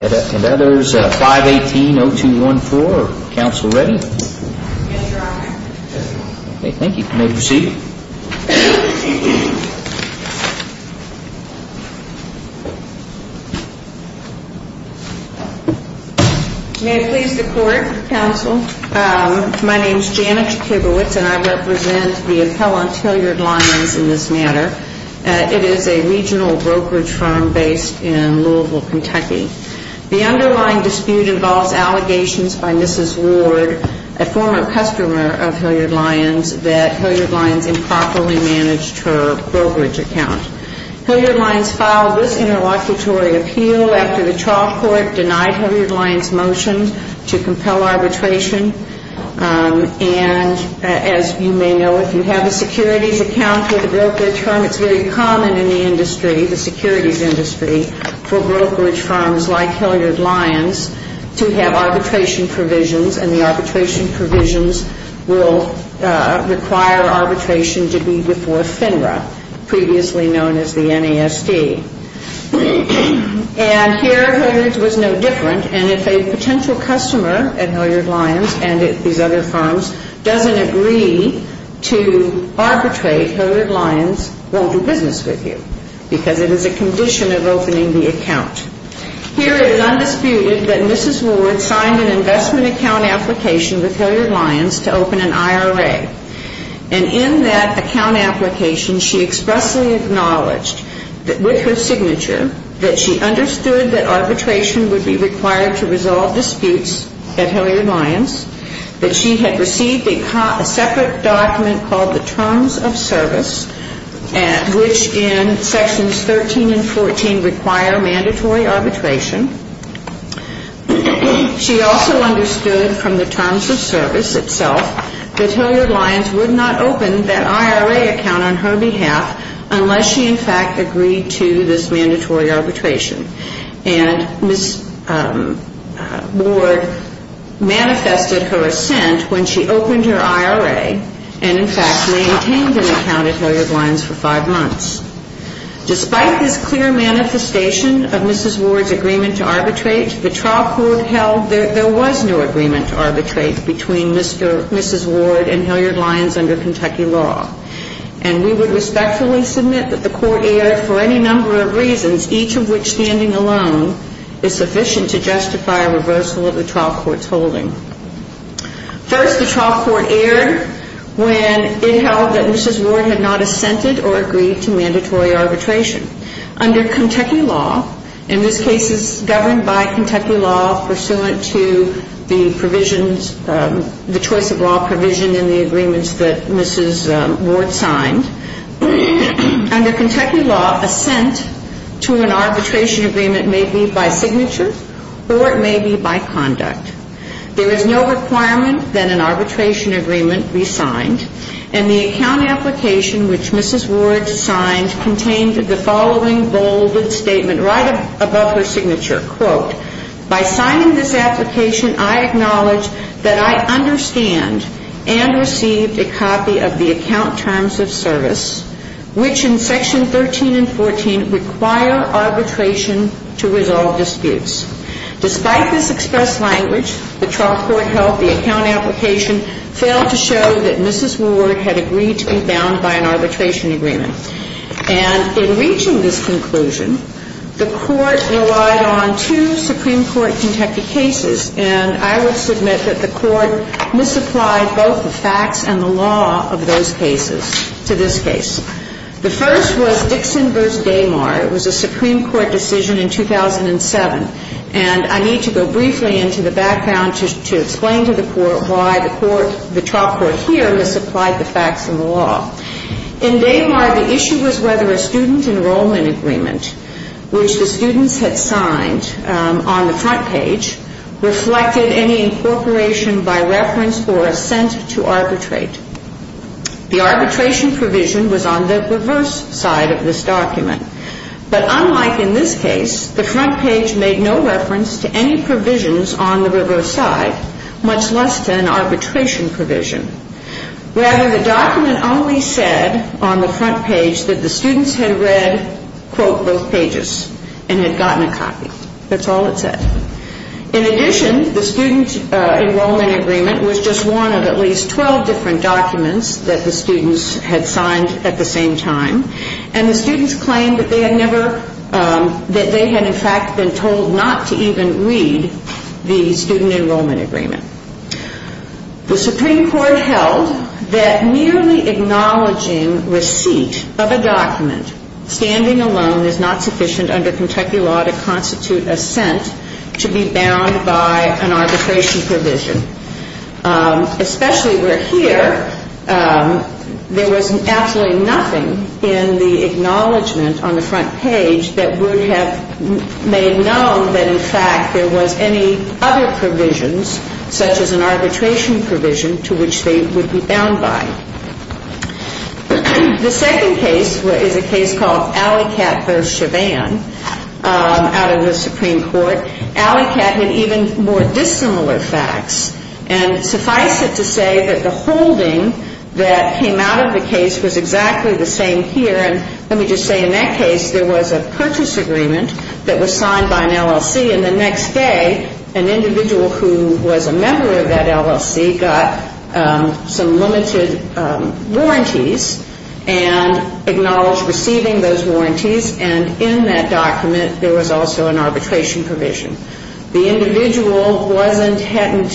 May I please the court, counsel? My name is Janet Kibowitz and I represent the appellant Hilliard-Lyons in this matter. It is a regional brokerage firm based in Louisville, Kentucky. The underlying dispute involves allegations by Mrs. Ward, a former customer of Hilliard-Lyons, that Hilliard-Lyons improperly managed her brokerage account. Hilliard-Lyons filed this interlocutory appeal after the trial court denied Hilliard-Lyons' motion to compel arbitration. And as you may know, if you have a securities account with a brokerage firm, it's very common in the industry, the securities industry, for brokerage firms like Hilliard-Lyons to have arbitration provisions. And the arbitration provisions will require arbitration to be before FINRA, previously known as the NASD. And here, Hilliard's was no different, and if a potential customer at Hilliard-Lyons and at these other firms doesn't agree to arbitrate, Hilliard-Lyons won't do business with you because it is a condition of opening the account. Here it is undisputed that Mrs. Ward signed an investment account application with Hilliard-Lyons to open an IRA. And in that account application, she expressly acknowledged, with her signature, that she understood that arbitration would be required to resolve disputes at Hilliard-Lyons, that she had received a separate document called the Terms of Service, which in Sections 13 and 14 require mandatory arbitration. She also understood from the Terms of Service itself that Hilliard-Lyons would not open that IRA account on her behalf unless she, in fact, agreed to this mandatory arbitration. And Mrs. Ward manifested her assent when she opened her IRA and, in fact, maintained an account at Hilliard-Lyons for five months. Despite this clear manifestation of Mrs. Ward's agreement to arbitrate, the trial court held that there was no agreement to arbitrate between Mrs. Ward and Hilliard-Lyons under Kentucky law. And we would respectfully submit that the court erred for any number of reasons, each of which, standing alone, is sufficient to justify a reversal of the trial court's holding. First, the trial court erred when it held that Mrs. Ward had not assented or agreed to mandatory arbitration. Under Kentucky law, in this case it's governed by Kentucky law pursuant to the provisions, the choice of law provision in the agreements that Mrs. Ward signed. Under Kentucky law, assent to an arbitration agreement may be by signature or it may be by conduct. There is no requirement that an arbitration agreement be signed. And the account application which Mrs. Ward signed contained the following bolded statement right above her signature. Quote, by signing this application, I acknowledge that I understand and received a copy of the account terms of service, which in section 13 and 14 require arbitration to resolve disputes. Despite this expressed language, the trial court held the account application failed to show that Mrs. Ward had agreed to be bound by an arbitration agreement. And in reaching this conclusion, the court relied on two Supreme Court Kentucky cases. And I would submit that the court misapplied both the facts and the law of those cases to this case. The first was Dixon v. Damar. It was a Supreme Court decision in 2007. And I need to go briefly into the background to explain to the court why the court, the trial court here, misapplied the facts and the law. In Damar, the issue was whether a student enrollment agreement, which the students had signed on the front page, reflected any incorporation by reference or assent to arbitrate. The arbitration provision was on the reverse side of this document. But unlike in this case, the front page made no reference to any provisions on the reverse side, much less to an arbitration provision. Rather, the document only said on the front page that the students had read, quote, both pages and had gotten a copy. That's all it said. In addition, the student enrollment agreement was just one of at least 12 different documents that the students had signed at the same time. And the students claimed that they had never, that they had in fact been told not to even read the student enrollment agreement. The Supreme Court held that merely acknowledging receipt of a document standing alone is not sufficient under Kentucky law to constitute assent to be bound by an arbitration provision. Especially where here, there was absolutely nothing in the acknowledgment on the front page that would have made known that in fact there was any other provisions, such as an arbitration provision, to which they would be bound by. The second case is a case called Alleycat v. Chavann out of the Supreme Court. Alleycat had even more dissimilar facts. And suffice it to say that the holding that came out of the case was exactly the same here. And let me just say, in that case, there was a purchase agreement that was signed by an LLC. And the next day, an individual who was a member of that LLC got some limited warranties and acknowledged receiving those warranties. And in that document, there was also an arbitration provision. The individual wasn't, hadn't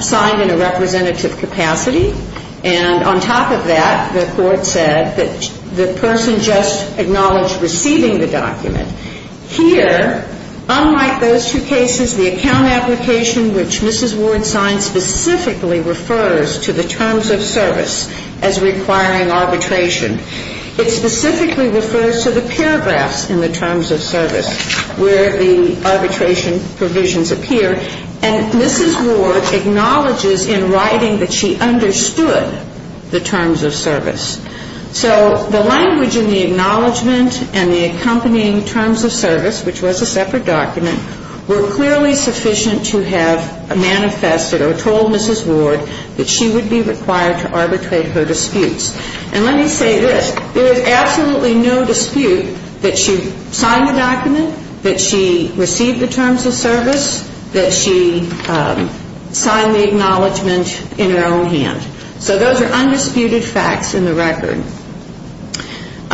signed in a representative capacity. And on top of that, the court said that the person just acknowledged receiving the document. Here, unlike those two cases, the account application which Mrs. Ward signed specifically refers to the terms of service as requiring arbitration. It specifically refers to the paragraphs in the terms of service where the arbitration provisions appear. And Mrs. Ward acknowledges in writing that she understood the terms of service. So the language in the acknowledgment and the accompanying terms of service, which was a separate document, were clearly sufficient to have manifested or told Mrs. Ward that she would be required to arbitrate her disputes. And let me say this. There is absolutely no dispute that she signed the document, that she received the terms of service, that she signed the acknowledgment in her own hand. So those are undisputed facts in the record.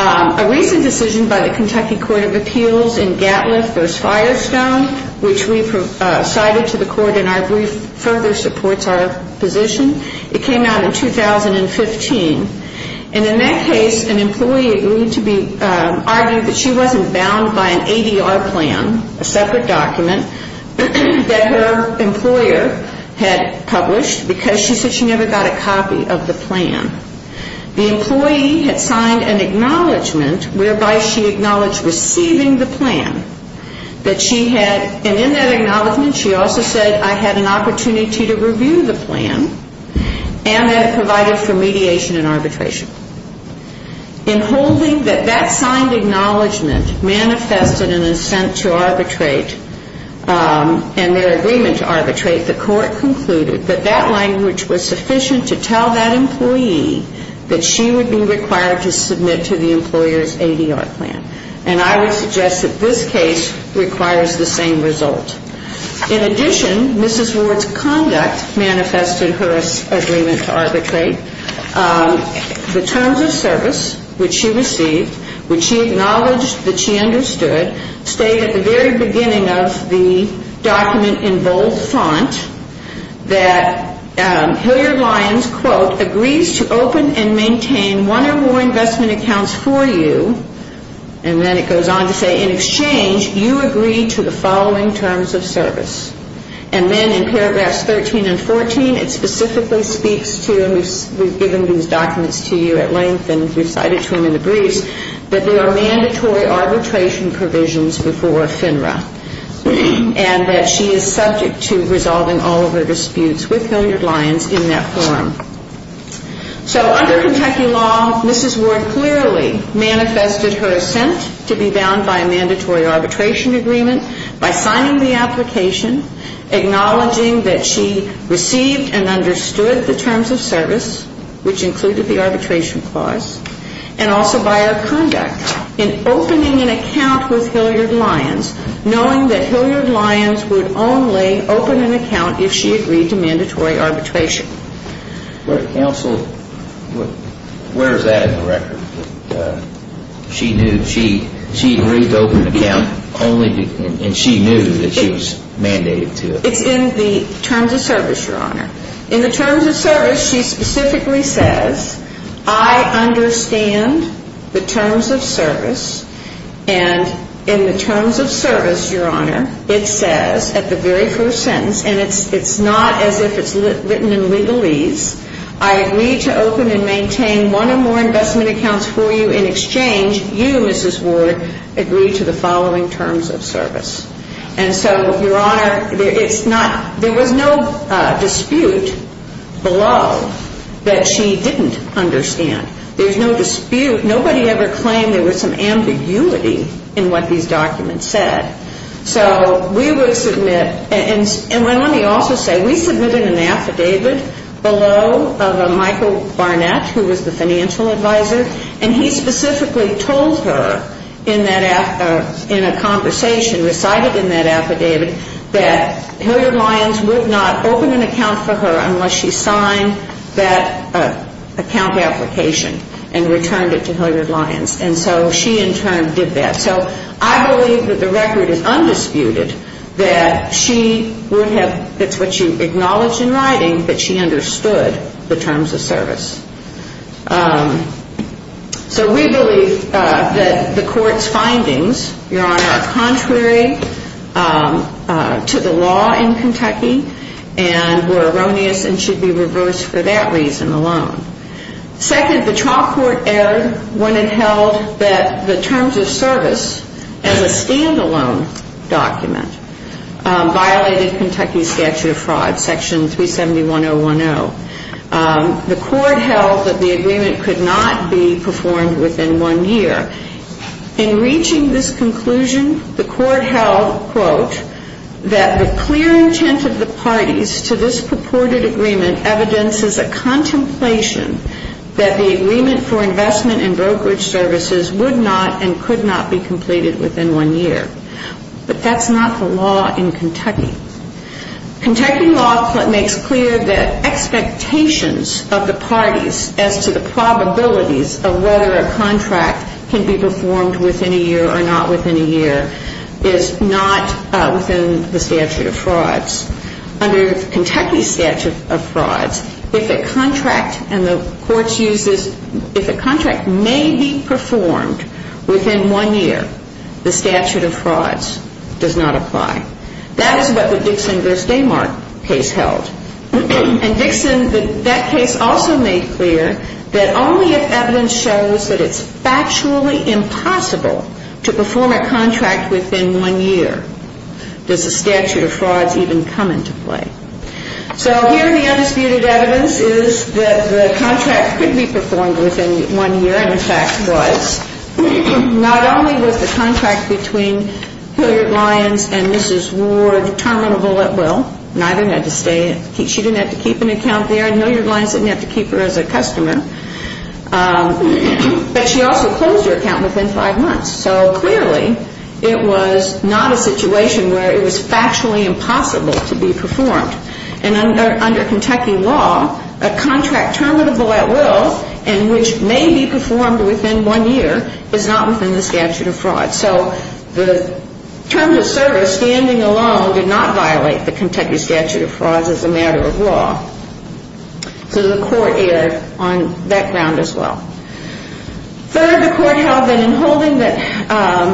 A recent decision by the Kentucky Court of Appeals in Gatlin v. Firestone, which we cited to the court in our brief, further supports our position. It came out in 2015. And in that case, an employee agreed to be argued that she wasn't bound by an ADR plan, a separate document that her employer had published because she said she never got a copy of the plan. The employee had signed an acknowledgment whereby she acknowledged receiving the plan, that she had, and in that acknowledgment she also said, I had an opportunity to review the plan and that it provided for mediation and arbitration. In holding that that signed acknowledgment manifested an assent to arbitrate and their agreement to arbitrate, the court concluded that that language was sufficient to tell that employee that she would be required to submit to the employer's ADR plan. And I would suggest that this case requires the same result. In addition, Mrs. Ward's conduct manifested her agreement to arbitrate. The terms of service which she received, which she acknowledged that she understood, state at the very beginning of the document in bold font that Hilliard-Lyons, quote, agrees to open and maintain one or more investment accounts for you. And then it goes on to say, in exchange, you agree to the following terms of service. And then in paragraphs 13 and 14, it specifically speaks to, and we've given these documents to you at length and we've cited to them in the briefs, that there are mandatory arbitration provisions before FINRA and that she is subject to resolving all of her disputes with Hilliard-Lyons in that forum. So under Kentucky law, Mrs. Ward clearly manifested her assent to be bound by a mandatory arbitration agreement by signing the application, acknowledging that she received and understood the terms of service, which included the arbitration clause, and also by her conduct in opening an account with Hilliard-Lyons, knowing that Hilliard-Lyons would only open an account if she agreed to mandatory arbitration. Counsel, where is that in the record? She agreed to open an account and she knew that she was mandated to it? It's in the terms of service, Your Honor. In the terms of service, she specifically says, I understand the terms of service and in the terms of service, Your Honor, it says at the very first sentence, and it's not as if it's written in legalese, I agree to open and maintain one or more investment accounts for you in exchange. You, Mrs. Ward, agree to the following terms of service. And so, Your Honor, there was no dispute below that she didn't understand. There's no dispute. Nobody ever claimed there was some ambiguity in what these documents said. So we would submit, and let me also say, we submitted an affidavit below of a Michael Barnett, who was the financial advisor, and he specifically told her in a conversation recited in that affidavit that Hilliard-Lyons would not open an account for her unless she signed that account application and returned it to Hilliard-Lyons. And so she, in turn, did that. So I believe that the record is undisputed that she would have, it's what she acknowledged in writing, that she understood the terms of service. So we believe that the court's findings, Your Honor, are contrary to the law in Kentucky and were erroneous and should be reversed for that reason alone. Second, the trial court erred when it held that the terms of service as a stand-alone document violated Kentucky's statute of fraud, Section 371.010. The court held that the agreement could not be performed within one year. In reaching this conclusion, the court held, quote, that the clear intent of the parties to this purported agreement is a contemplation that the agreement for investment and brokerage services would not and could not be completed within one year. But that's not the law in Kentucky. Kentucky law makes clear that expectations of the parties as to the probabilities of whether a contract can be performed within a year or not within a year is not within the statute of frauds. Under Kentucky's statute of frauds, if a contract and the courts use this, if a contract may be performed within one year, the statute of frauds does not apply. That is what the Dixon v. Damark case held. And Dixon, that case also made clear that only if evidence shows that it's factually impossible to perform a contract within one year does the statute of frauds even come into play. So here the undisputed evidence is that the contract could be performed within one year and, in fact, was. Not only was the contract between Hilliard-Lyons and Mrs. Ward terminable at will, neither had to stay, she didn't have to keep an account there, and Hilliard-Lyons didn't have to keep her as a customer, but she also closed her account within five months. So clearly, it was not a situation where it was factually impossible to be performed. And under Kentucky law, a contract terminable at will and which may be performed within one year is not within the statute of frauds. So the terms of service, standing alone, did not violate the Kentucky statute of frauds as a matter of law. So the court erred on that ground as well. Third, the court held that in holding that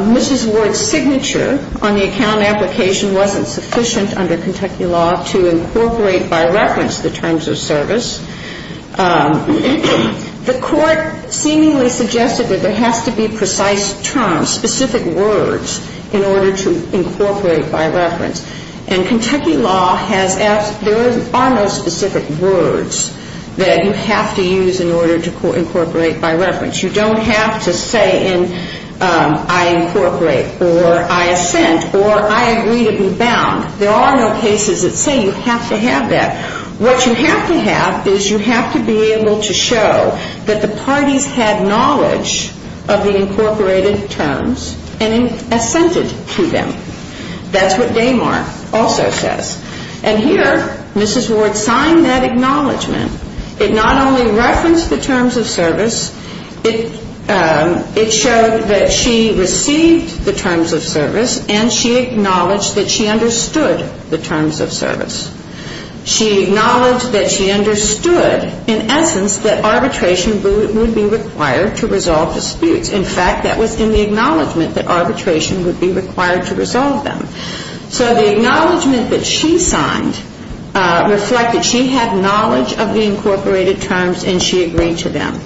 Mrs. Ward's signature on the account application wasn't sufficient under Kentucky law to incorporate by reference the terms of service. The court seemingly suggested that there has to be precise terms, specific words in order to incorporate by reference. And Kentucky law has asked, there are no specific words that you have to use in order to incorporate by reference. You don't have to say in I incorporate or I assent or I agree to be bound. There are no cases that say you have to have that. What you have to have is you have to be able to show that the parties had knowledge of the incorporated terms and assented to them. That's what Damar also says. And here, Mrs. Ward signed that acknowledgement. It not only referenced the terms of service, it showed that she received the terms of service and she acknowledged that she understood the terms of service. She acknowledged that she understood in essence that arbitration would be required to resolve disputes. In fact, that was in the acknowledgement that arbitration would be required to resolve them. So the acknowledgement that she signed reflected she had knowledge of the incorporated terms and she agreed to them.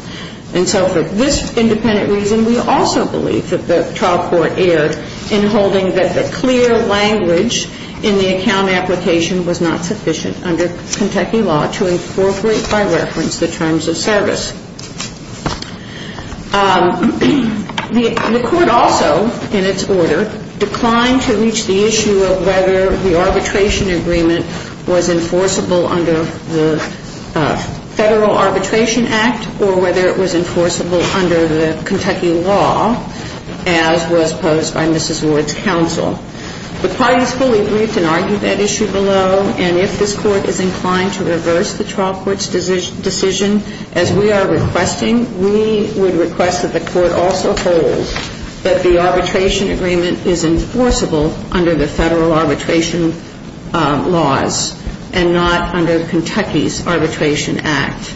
And so for this independent reason, we also believe that the trial court erred in holding that the clear language in the account application was not sufficient under Kentucky law to incorporate by reference the terms of service. The court also, in its order, declined to reach the issue of whether the arbitration agreement was enforceable under the Federal Arbitration Act or whether it was enforceable under the Kentucky law as was posed by Mrs. Ward's counsel. The parties fully briefed and argued that issue below and if this court is inclined to reverse the trial court's decision as we are requesting, we would request that the court also hold that the arbitration agreement is enforceable under the Federal Arbitration laws and not under Kentucky's Arbitration Act.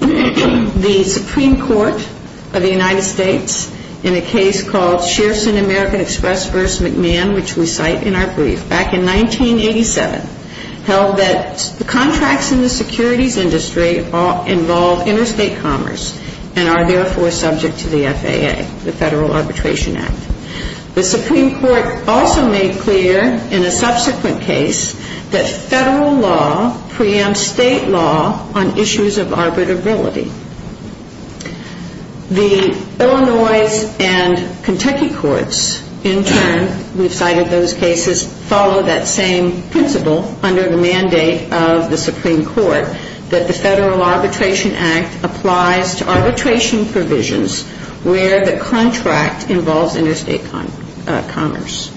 The Supreme Court of the United States in a case called Shearson American Express v. McMahon which we cite in our brief back in 1987 held that the contracts in the securities industry involve interstate commerce and are therefore subject to the FAA the Federal Arbitration Act. The Supreme Court also made clear in a subsequent case that Federal law preempts State law on issues of arbitrability. The Illinois and Kentucky courts in turn we've cited those cases follow that same principle under the mandate of the Supreme Court that the Federal Arbitration Act applies to arbitration provisions where the contract involves interstate commerce.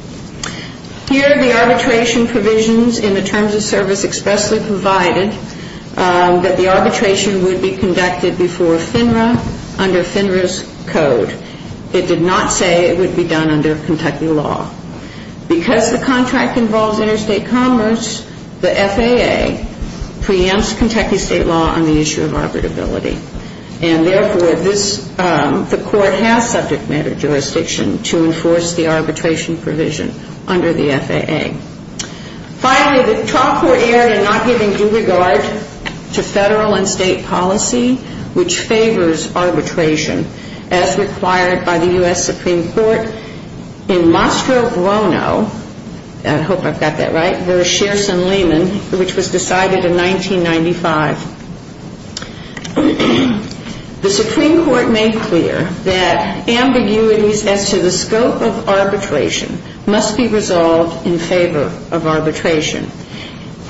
Here the arbitration provisions in the terms of service expressly provided that the arbitration would be conducted before FINRA under FINRA's code. It did not say it would be done under Kentucky law. Because the contract involves interstate commerce the FAA preempts Kentucky State law on the issue of arbitrability and therefore this the court has subject matter jurisdiction to enforce the arbitration provision under the FAA. Finally, the talk were aired in not giving due regard to Federal and State policy which favors arbitration as required by the U.S. Supreme Court in Mastro Buono I hope I've got that right v. Shearson-Lehman which was decided in 1995. The Supreme Court made clear that ambiguities as to the scope of arbitration must be resolved in favor of arbitration.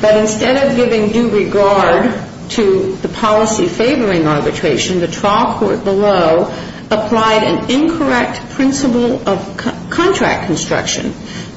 But instead of giving due regard to the policy favoring arbitration, the trial court below applied an incorrect principle of contract construction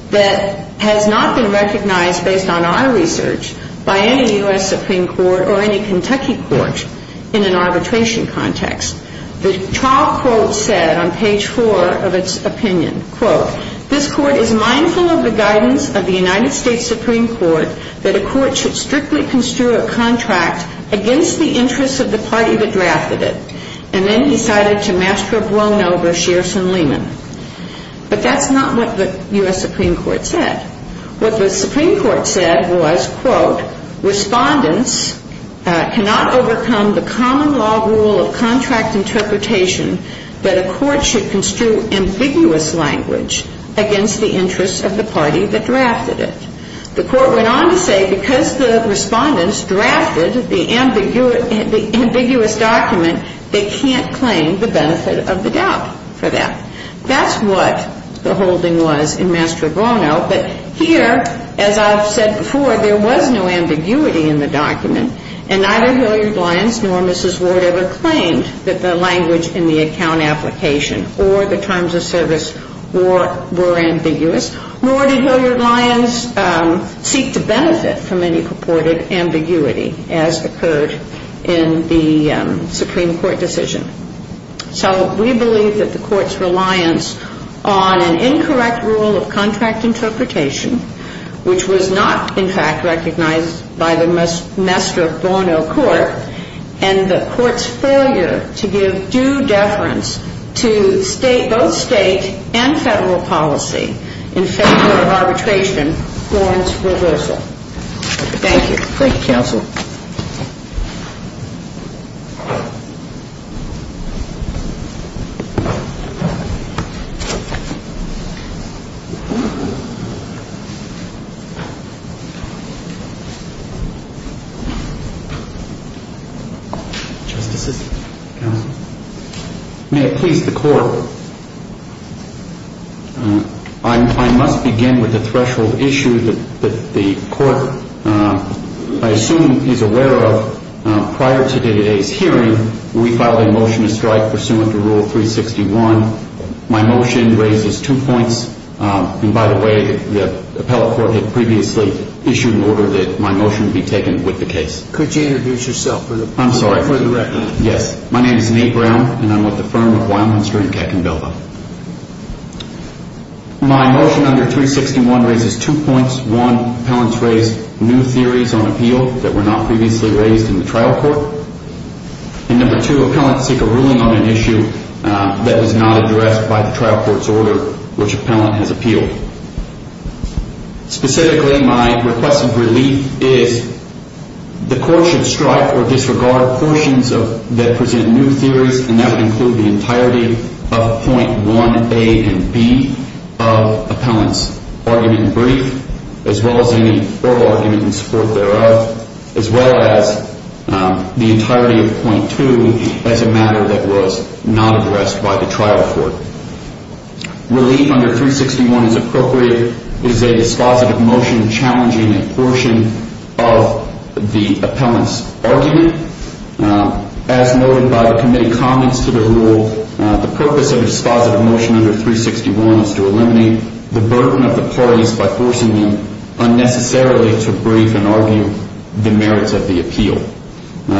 that has not been recognized based on our research by any U.S. Supreme Court or any Kentucky court in an arbitration context. The trial court said on page 4 of its opinion, quote, this court is mindful of the guidance of the United States Supreme Court that a court should strictly construe a contract against the interests of the party that drafted it and then decided to Mastro Buono v. Shearson-Lehman. But that's not what the U.S. Supreme Court said. What the Supreme Court said was, quote, respondents cannot overcome the common law rule of contract interpretation that a court should construe ambiguous language against the interests of the party that drafted it. The court went on to say because the respondents drafted the ambiguous document, they can't claim the benefit of the doubt for that. That's what the holding was in Mastro Buono, but here, as I've said before, there was no ambiguity in the document, and neither Hilliard Lyons nor Mrs. Ward ever believed that the language in the account application or the terms of service were ambiguous. Nor did Hilliard Lyons seek to benefit from any purported ambiguity as occurred in the Supreme Court decision. So we believe that the court's reliance on an incorrect rule of contract interpretation, which was not, in fact, recognized by the Mastro Buono court, and the court's failure to give due deference to both state and federal policy in favor of arbitration warrants reversal. Thank you. May it please the court, I must begin with the threshold issue that the court, I assume, is aware of. Prior to today's hearing, we filed a motion to strike pursuant to Rule 361. My motion raises two points. And by the way, the appellate court had previously issued an order that my motion be taken with the case. Could you introduce yourself for the record? I'm sorry. Yes. My name is Nate Brown, and I'm with the firm of Wildminster and Keck in Belva. My motion under 361 raises two points. One, appellants raise new theories on appeal that were not previously raised in the trial court. And number two, appellants take a ruling on an issue that was not addressed by the trial court's order which appellant has appealed. Specifically, my request of relief is the court should strike or disregard portions that present new theories and that would include the entirety of Point 1A and B of appellant's argument in brief, as well as any oral argument in support thereof, as well as the entirety of Point 2 as a matter that was not addressed by the trial court. Relief under 361 is appropriate. It is a dispositive motion challenging a portion of the appellant's argument. As noted by the committee comments to the rule, the purpose of a dispositive motion under 361 is to eliminate the burden of the parties by forcing them unnecessarily to brief and argue the merits of the appeal.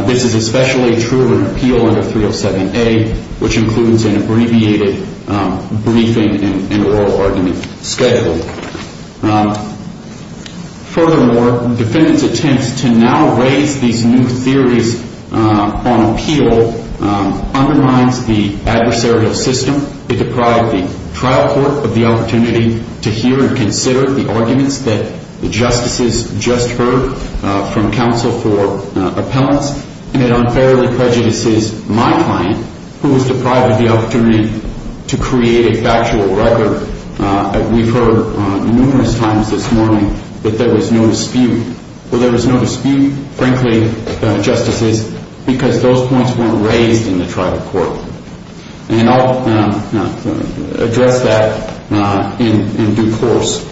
This is especially true of an appeal under 307A, which includes an abbreviated briefing and oral argument scheduled. Furthermore, defendant's attempts to now raise these new theories on appeal undermines the adversarial system. It deprived the trial court of the opportunity to hear and consider the arguments that the justices just heard from counsel for appellants and it unfairly prejudices my client, who was deprived of the opportunity to create a factual record. We've heard numerous times this morning that there was no dispute. Well, there was no dispute, frankly, justices, because those points weren't raised in the trial court. And I'll address that in due course.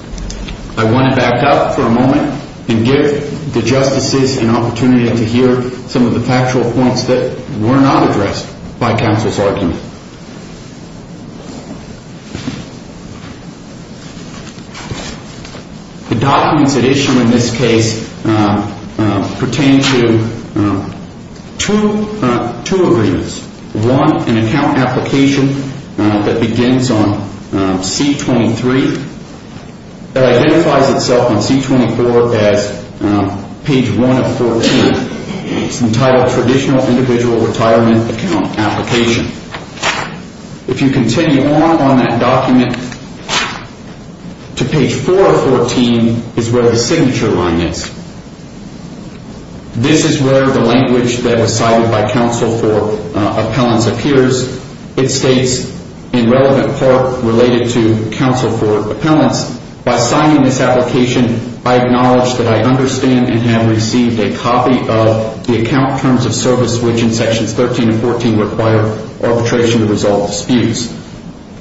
I want to back up for a moment and give the justices an opportunity to hear some of the factual points that were not addressed by counsel's argument. The documents at issue in this case pertain to two agreements. One, an account application that begins on C23, that identifies itself on C24 as page 1 of 14. It's entitled Traditional Individual Retirement Account Application. If you continue on on that document to page 4 of 14 is where the signature line is. This is where the language that was cited by counsel for appellants appears. It states in relevant part, related to counsel for appellants, by signing this application I acknowledge that I understand and have received a copy of the account terms of service, which in order to resolve disputes.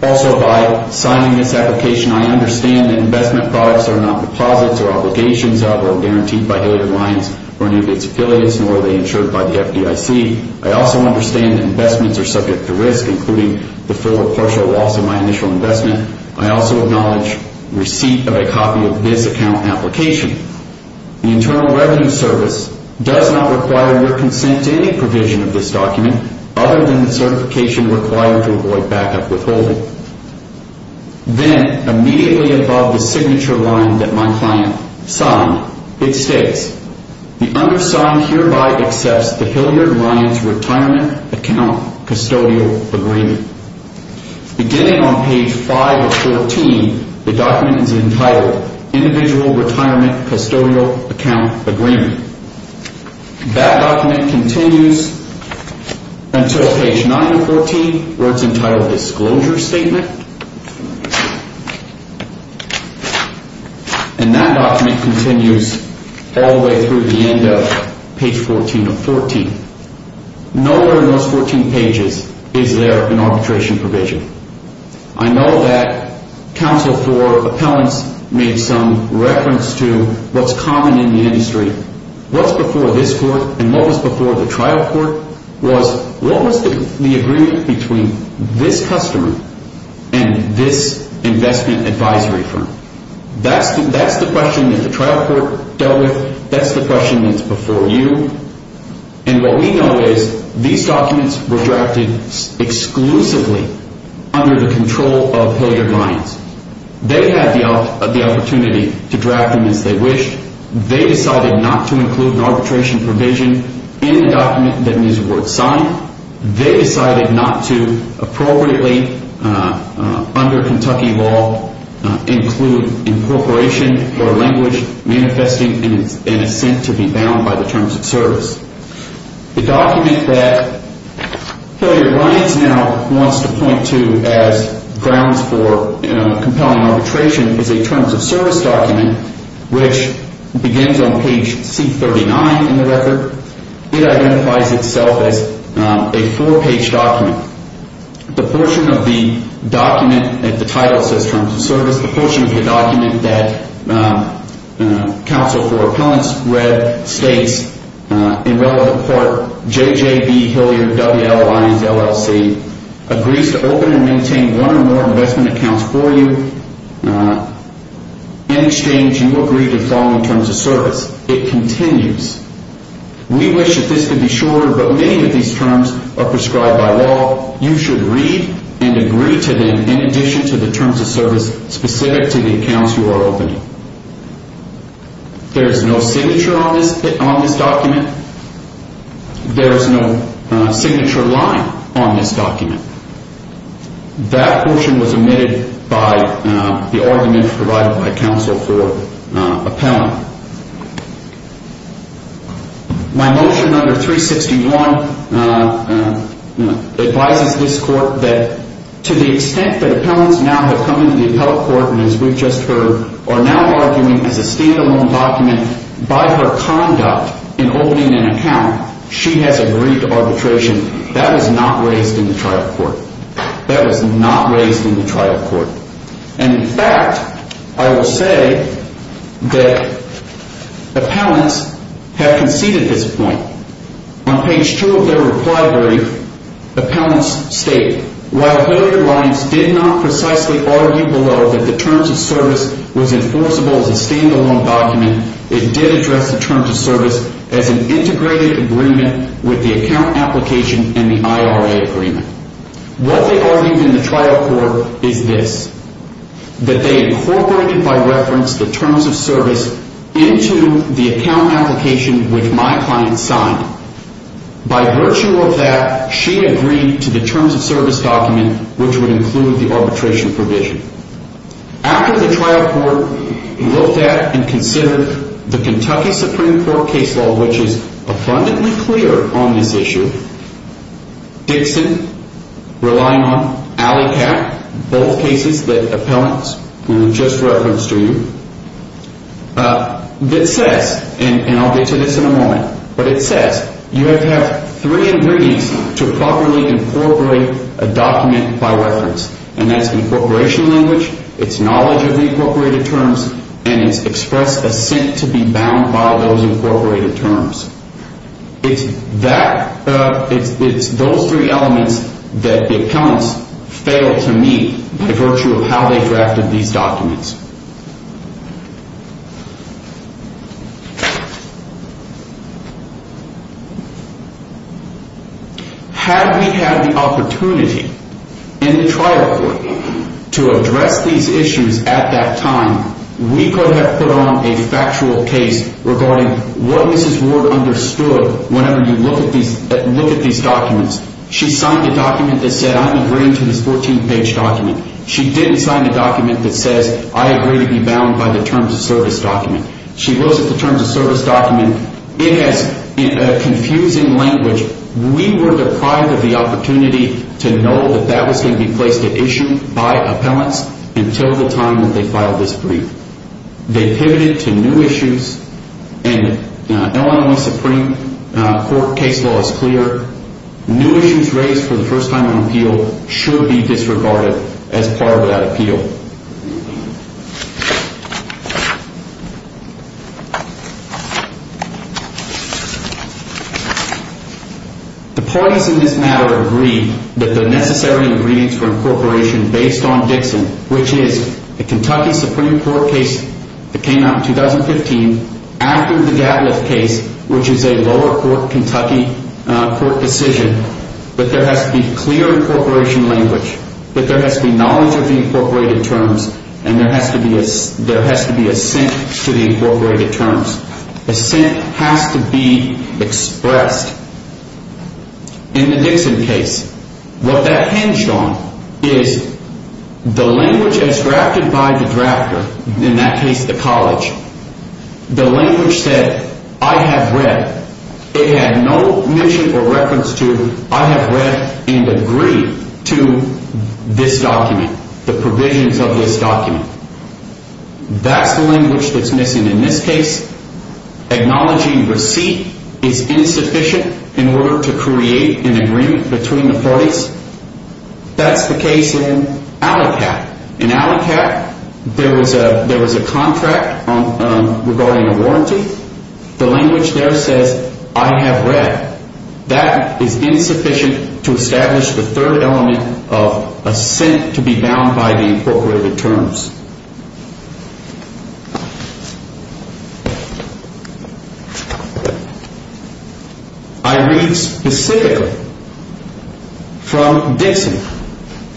Also by signing this application I understand that investment products are not deposits or obligations of or guaranteed by Haley Alliance or any of its affiliates, nor are they insured by the FDIC. I also understand that investments are subject to risk, including the full or partial loss of my initial investment. I also acknowledge receipt of a copy of this account application. The Internal Revenue Service does not require your consent to any provision of the certification required to avoid backup withholding. Then, immediately above the signature line that my client signed, it states the undersigned hereby accepts the Hilliard Alliance Retirement Account Custodial Agreement. Beginning on page 5 of 14, the document is entitled Individual Retirement Custodial Account Agreement. That document continues until page 9 of 14 where it's entitled Disclosure Statement. And that document continues all the way through the end of page 14 of 14. Nowhere in those 14 pages is there an arbitration provision. I know that counsel for appellants made some reference to what's common in the industry. What's before this court and what was before the trial court was what was the agreement between this customer and this investment advisory firm. That's the question that the trial court dealt with. That's the question that's before you. And what we know is these documents were drafted exclusively under the control of Hilliard Alliance. They had the opportunity to draft them as they wished. They decided not to include an arbitration provision in the document that was signed. They decided not to appropriately under Kentucky law include incorporation or language manifesting an assent to be bound by the terms of service. The document that Hilliard Alliance now wants to point to as grounds for compelling arbitration is a terms of service document which begins on page C39 in the record. It identifies itself as a four page document. The portion of the document, the title says terms of service, the portion of the document that counsel for appellants read states in relevant part JJB Hilliard WL Alliance LLC agrees to open and maintain one or more investment accounts for you in exchange you agree to the following terms of service. It continues we wish that this could be shorter but many of these terms are prescribed by law you should read and agree to them in addition to the terms of service specific to the accounts you are opening. There is no signature on this document. There is no signature line on this document. That portion was provided by the argument provided by counsel for appellant. My motion number 361 advises this court that to the extent that appellants now have come into the appellate court and as we have just heard are now arguing as a stand alone document by her conduct in opening an account she has agreed to arbitration. That was not raised in the trial court. That was not raised in the trial court. And in fact I will say that appellants have conceded this point. On page 2 of their reply brief appellants state while WL did not precisely argue below that the terms of service was enforceable as a stand alone document it did address the terms of service as an integrated agreement with the account application and the IRA agreement. What they argued in the trial court is this. That they incorporated by reference the terms of service into the account application which my client signed. By virtue of that she agreed to the terms of service document which would include the arbitration provision. After the trial court looked at and considered the Kentucky Supreme Court case law which is abundantly clear on this issue Dixon relying on Alleycat both cases that appellants just referenced to you that says and I'll get to this in a moment but it says you have to have three ingredients to properly incorporate a document by reference and that's incorporation language, it's knowledge of the incorporated terms and it's express assent to be bound by those incorporated terms. It's that it's those three elements that the appellants failed to meet by virtue of how they drafted these documents. Had we had the opportunity in the trial court to address these issues at that time we could have put on a factual case regarding what Mrs. Ward understood whenever you look at these documents. She signed a document that said I'm agreeing to this 14 page document. She didn't sign a document that says I agree to be bound by the terms of service document. She looks at the terms of service document in a confusing language we were deprived of the opportunity to know that that was going to be placed at issue by appellants until the time that they filed this brief. They pivoted to new issues and Illinois Supreme Court case law is clear new issues raised for the first time on appeal should be disregarded as part of that appeal. The parties in this matter agreed that the necessary ingredients for incorporation based on Dixon which is the Kentucky Supreme Court case that came out in 2015 after the Gadliff case which is a lower court Kentucky court decision that there has to be clear incorporation language. That there has to be knowledge of the incorporated terms and there has to be assent to the incorporated terms. Assent has to be expressed in the Dixon case. What that hinged on is the language as drafted by the drafter in that case the college the language said I have read. It had no mention or reference to I have read and agree to this document the provisions of this document. That's the language that's missing in this case acknowledging receipt is insufficient in order to create an agreement between the parties that's the case in Allocat. In Allocat there was a contract regarding a warranty. The language there says I have read. That is insufficient to establish the third element of assent to be bound by the incorporated terms. I read specifically from Dixon.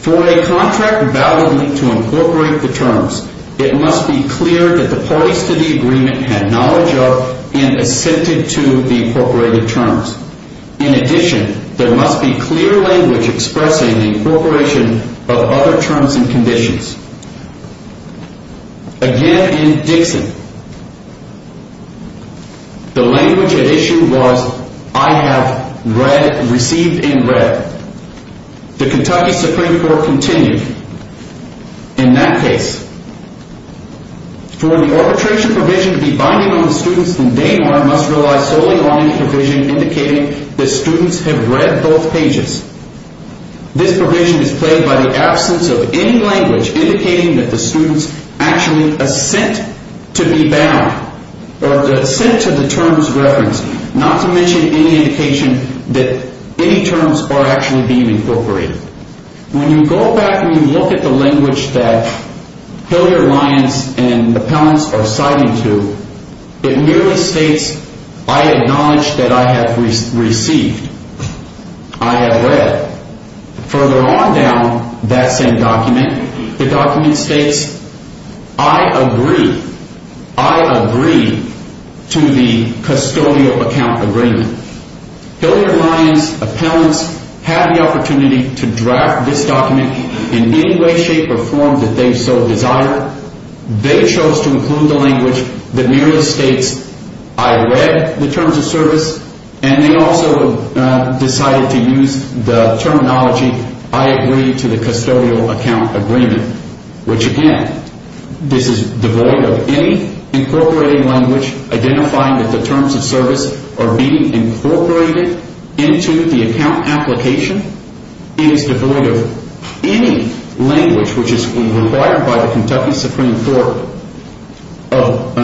For a contract bound to incorporate the terms it must be clear that the parties to the agreement had knowledge of and assented to the incorporated terms. In addition there must be clear language expressing the incorporation of other terms and conditions. Again in Dixon the language at issue was I have read, received and read. The Kentucky Supreme Court continued in that case for the arbitration provision to be binding on the students and they must rely solely on the provision indicating that students have read both pages. This provision is played by the absence of any language indicating that the students actually assent to be bound or assent to the any indication that any terms are actually being incorporated. When you go back and you look at the language that Hilliard, Lyons and Appellants are citing to it merely states I acknowledge that I have received. I have read. Further on down that same document the document states I agree. I agree to the Hilliard, Lyons Appellants had the opportunity to draft this document in any way shape or form that they so desired. They chose to include the language that merely states I read the terms of service and they also decided to use the terminology I agree to the custodial account agreement. Which again this is devoid of any incorporating language identifying that the terms of service are being incorporated into the account application. It is devoid of any language which is required by the Kentucky Supreme Court of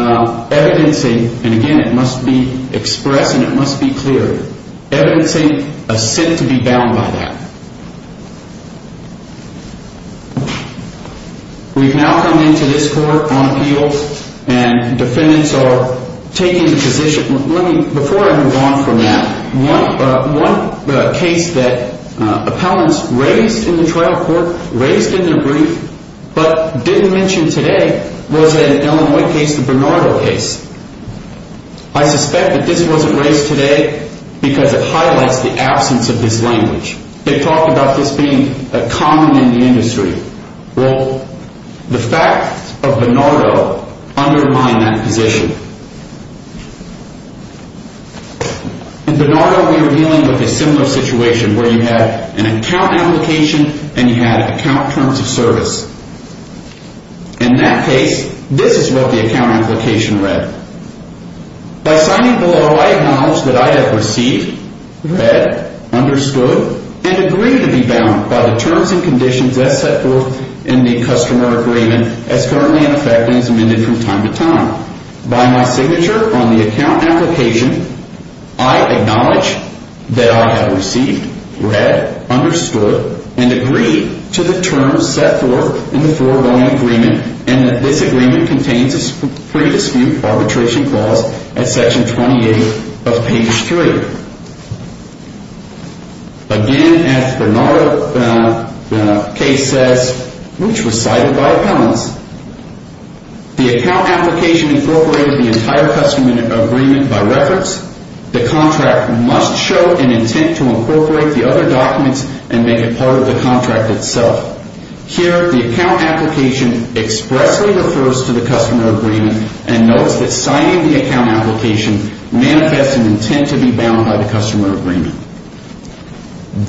evidencing and again it must be expressed and it must be clear evidencing assent to be bound by that. We've now come into this court on appeals and defendants are taking the position before I move on from that one case that appellants raised in the trial court raised in their brief but didn't mention today was an Illinois case, the Bernardo case. I suspect that this wasn't raised today because it highlights the absence of this language. They talk about this being common in the industry. The fact of the matter in the case of the Bernardo case there was an account application and you had account terms of service. In that case this is what the account application read. By signing below I acknowledge that I have received, read, understood and agreed to be bound by the terms and conditions as set forth in the customer agreement as currently in effect and as amended from time to time. By my signature on the account application I acknowledge that I have received, read, understood and agreed to the terms set forth in the foregoing agreement and that this agreement contains a pre-dispute arbitration clause at section 28 of page 3. Again as Bernardo case says which was cited by Appellants the account application incorporated the entire customer agreement by reference. The contract must show an intent to incorporate the other documents and make it part of the contract itself. Here the account application expressly refers to the customer agreement and notes that signing the account application manifests an intent to be bound by the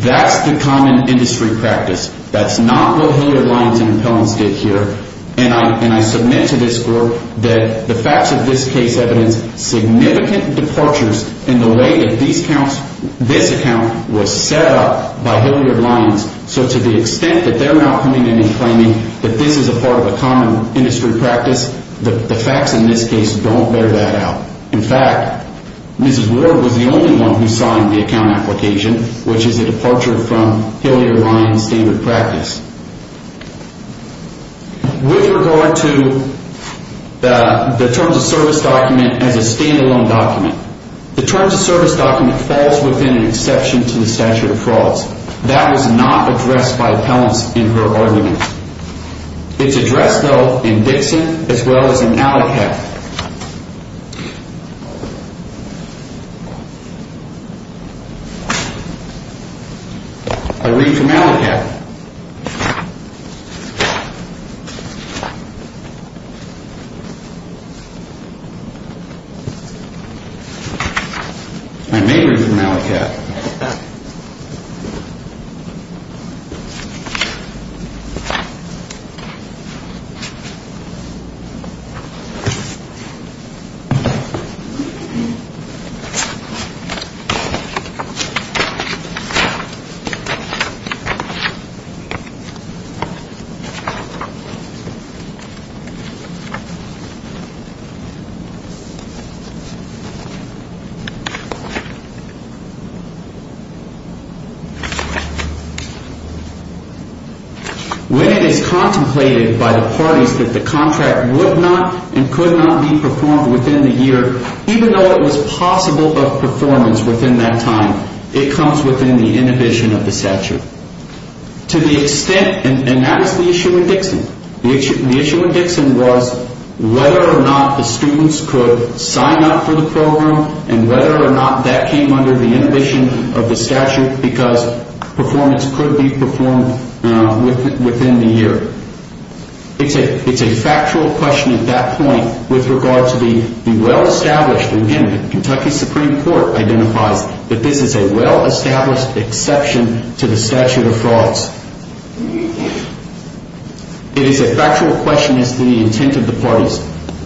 That's the common industry practice. That's not what Hilliard-Lyons and Appellants did here and I submit to this Court that the facts of this case evidence significant departures in the way that this account was set up by Hilliard-Lyons so to the extent that they're not coming in and claiming that this is a part of a common industry practice the facts in this case don't bear that out. In fact Mrs. Ward was the only one who signed the account application which is a departure from Hilliard-Lyons standard practice. With regard to the Terms of Service document as a standalone document. The Terms of Service document falls within an exception to the statute of frauds. That was not addressed by Appellants in her argument. It's addressed though in Dixon as well as in Allocat. I read from Allocat. I may read from Allocat. When it is contemplated by the parties that the contract would not and could not be performed within the year, even though it was possible of performance within that time, the parties it comes within the inhibition of the statute. To the extent, and that is the issue in Dixon. The issue in Dixon was whether or not the students could sign up for the program and whether or not that came under the inhibition of the statute because performance could be performed within the year. It's a factual question at that point with regard to the well established, and again the Kentucky Supreme Court identifies that this is a well established exception to the statute of frauds. It is a factual question as to the intent of the parties.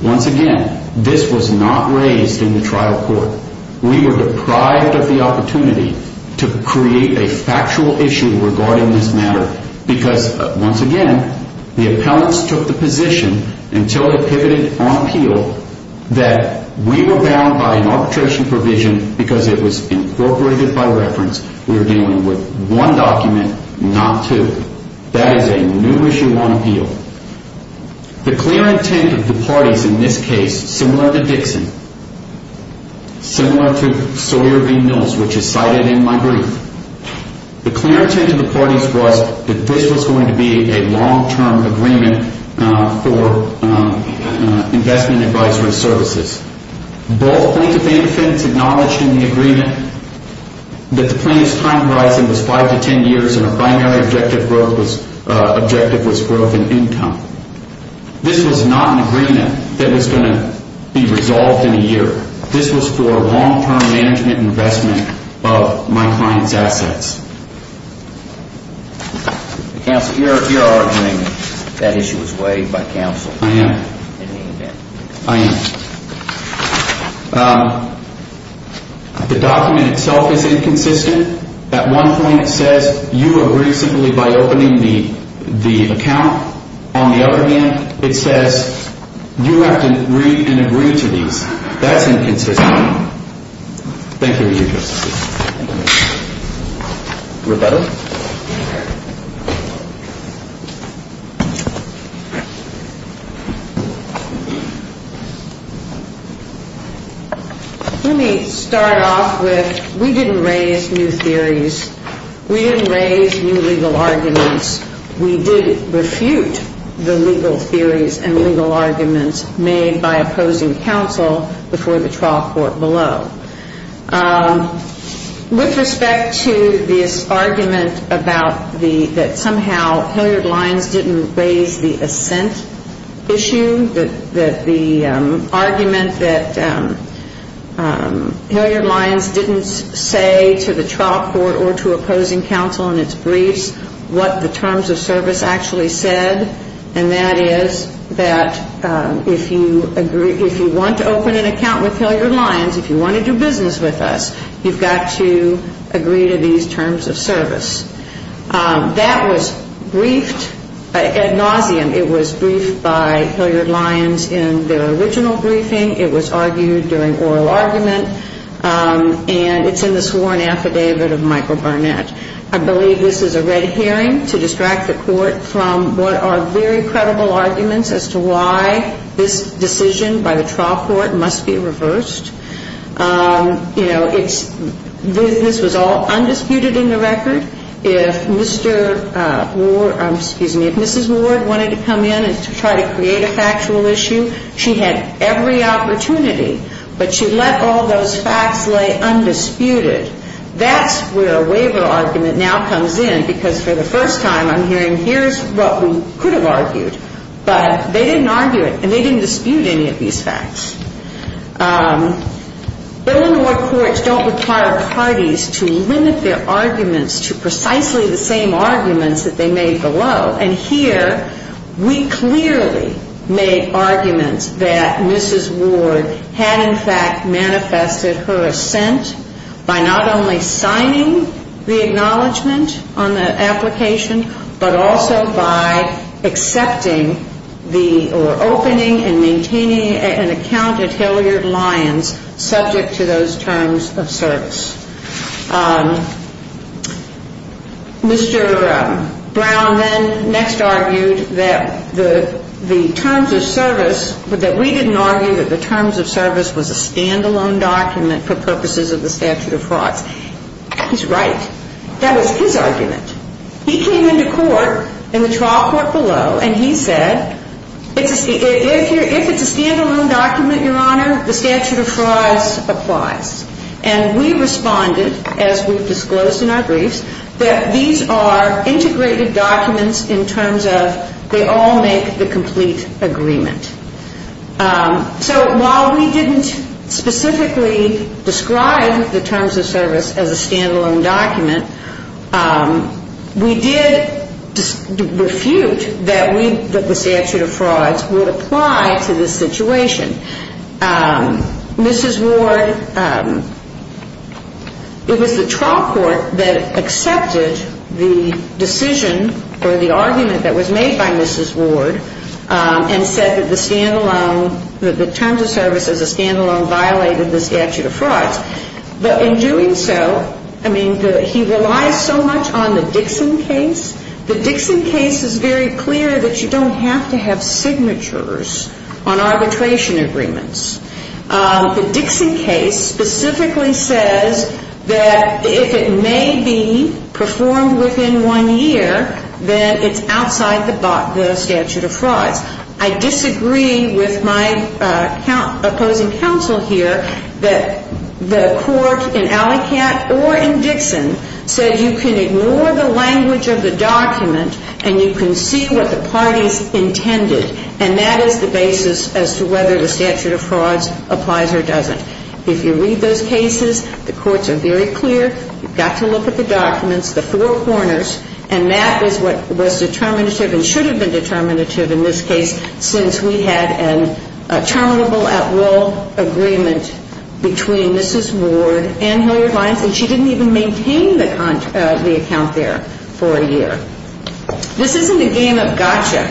Once again this was not raised in the trial court. We were deprived of the opportunity to create a factual issue regarding this matter because once again the Appellants took the position until they pivoted on appeal that we were bound by an arbitration provision because it was incorporated by reference. We were dealing with one document, not two. That is a new issue on appeal. The clear intent of the parties in this case similar to Dixon, similar to Sawyer v. Mills which is cited in my brief, the clear intent of the parties was that this was going to be a long term agreement for investment advisory services. Both plaintiff and defendants acknowledged in the agreement that the plaintiff's time horizon was five to ten years and our primary objective was growth in income. This was not an agreement that was going to be resolved in a year. This was for a long term management investment of my client's assets. Counsel, you're arguing that issue was weighed by counsel. I am. The document itself is inconsistent. At one point it says you agree simply by opening the account. On the other hand, it says you have to read and agree to these. That's inconsistent. Thank you. Let me start off with we didn't raise new theories. We didn't raise new legal arguments. We did refute the legal theories and legal arguments made by opposing counsel before the trial court below. With respect to this argument about the, that somehow Hillyard Lyons didn't agree to raise the assent issue, that the argument that Hillyard Lyons didn't say to the trial court or to opposing counsel in its briefs what the terms of service actually said and that is that if you agree, if you want to open an account with Hillyard Lyons, if you want to do business with us, you've got to agree to these terms of service. That was briefed ad nauseum. It was briefed by Hillyard Lyons in their original briefing. It was argued during oral argument and it's in the sworn affidavit of Michael Barnett. I believe this is a red hearing to distract the court from what are very credible arguments as to why this decision by the trial court must be reversed. You know, this was all undisputed in the record. If Mrs. Ward wanted to come in and try to create a factual issue, she had every opportunity but she let all those facts lay undisputed. That's where a waiver argument now comes in because for the first time I'm hearing here's what we could have argued but they didn't argue it and they didn't dispute any of these facts. Bill and war courts don't require parties to limit their arguments to precisely the same arguments that they made below and here we clearly made arguments that Mrs. Ward had in fact manifested her assent by not only signing the acknowledgement on the application but also by accepting or opening and maintaining an account at Hillyard Lyons subject to those terms of service. Mr. Brown then next argued that the terms of service that we didn't argue that the terms of service was a stand-alone document for purposes of the statute of frauds. He's right. That was his argument. He came into court in the trial court below and he said if it's a stand-alone document, Your Honor, the statute of frauds applies. And we responded as we disclosed in our briefs that these are integrated documents in terms of they all make the complete agreement. So while we didn't specifically describe the terms of service as a stand-alone document, we did refute that the statute of frauds would apply to this situation. Mrs. Ward, it was the trial court that accepted the decision or the argument that was made by Mrs. Ward and said that the stand-alone that the terms of service as a stand-alone violated the statute of frauds. But in doing so, I mean, he relies so much on the Dixon case. The Dixon case is very clear that you don't have to have signatures on arbitration agreements. The Dixon case specifically says that if it may be performed within one year, then it's outside the statute of frauds. I disagree with my opposing counsel here that the court in Alleycat or in Dixon said you can ignore the language of the document and you can see what the parties intended, and that is the basis as to whether the statute of frauds applies or doesn't. If you read those cases, the courts are very clear. You've got to look at the documents, the four corners, and that is what was determinative and should have been determinative in this case since we had a terminable at-will agreement between Mrs. Ward and Hilliard-Lyons, and she didn't even maintain the account there for a year. This isn't a game of gotcha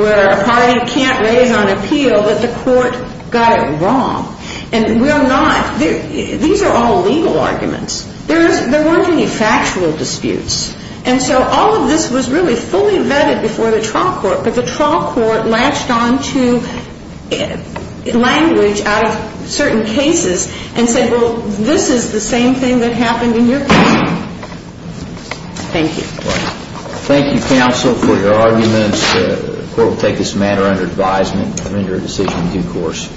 where a party can't raise on appeal that the court got it wrong, and we're not these are all legal arguments. There weren't any factual disputes, and so all of this was really fully vetted before the trial court, but the trial court latched on to language out of certain cases and said, well, this is the same thing that happened in your case. Thank you. Thank you, counsel, for your arguments. The court will take this matter under advisement and render a decision in due course.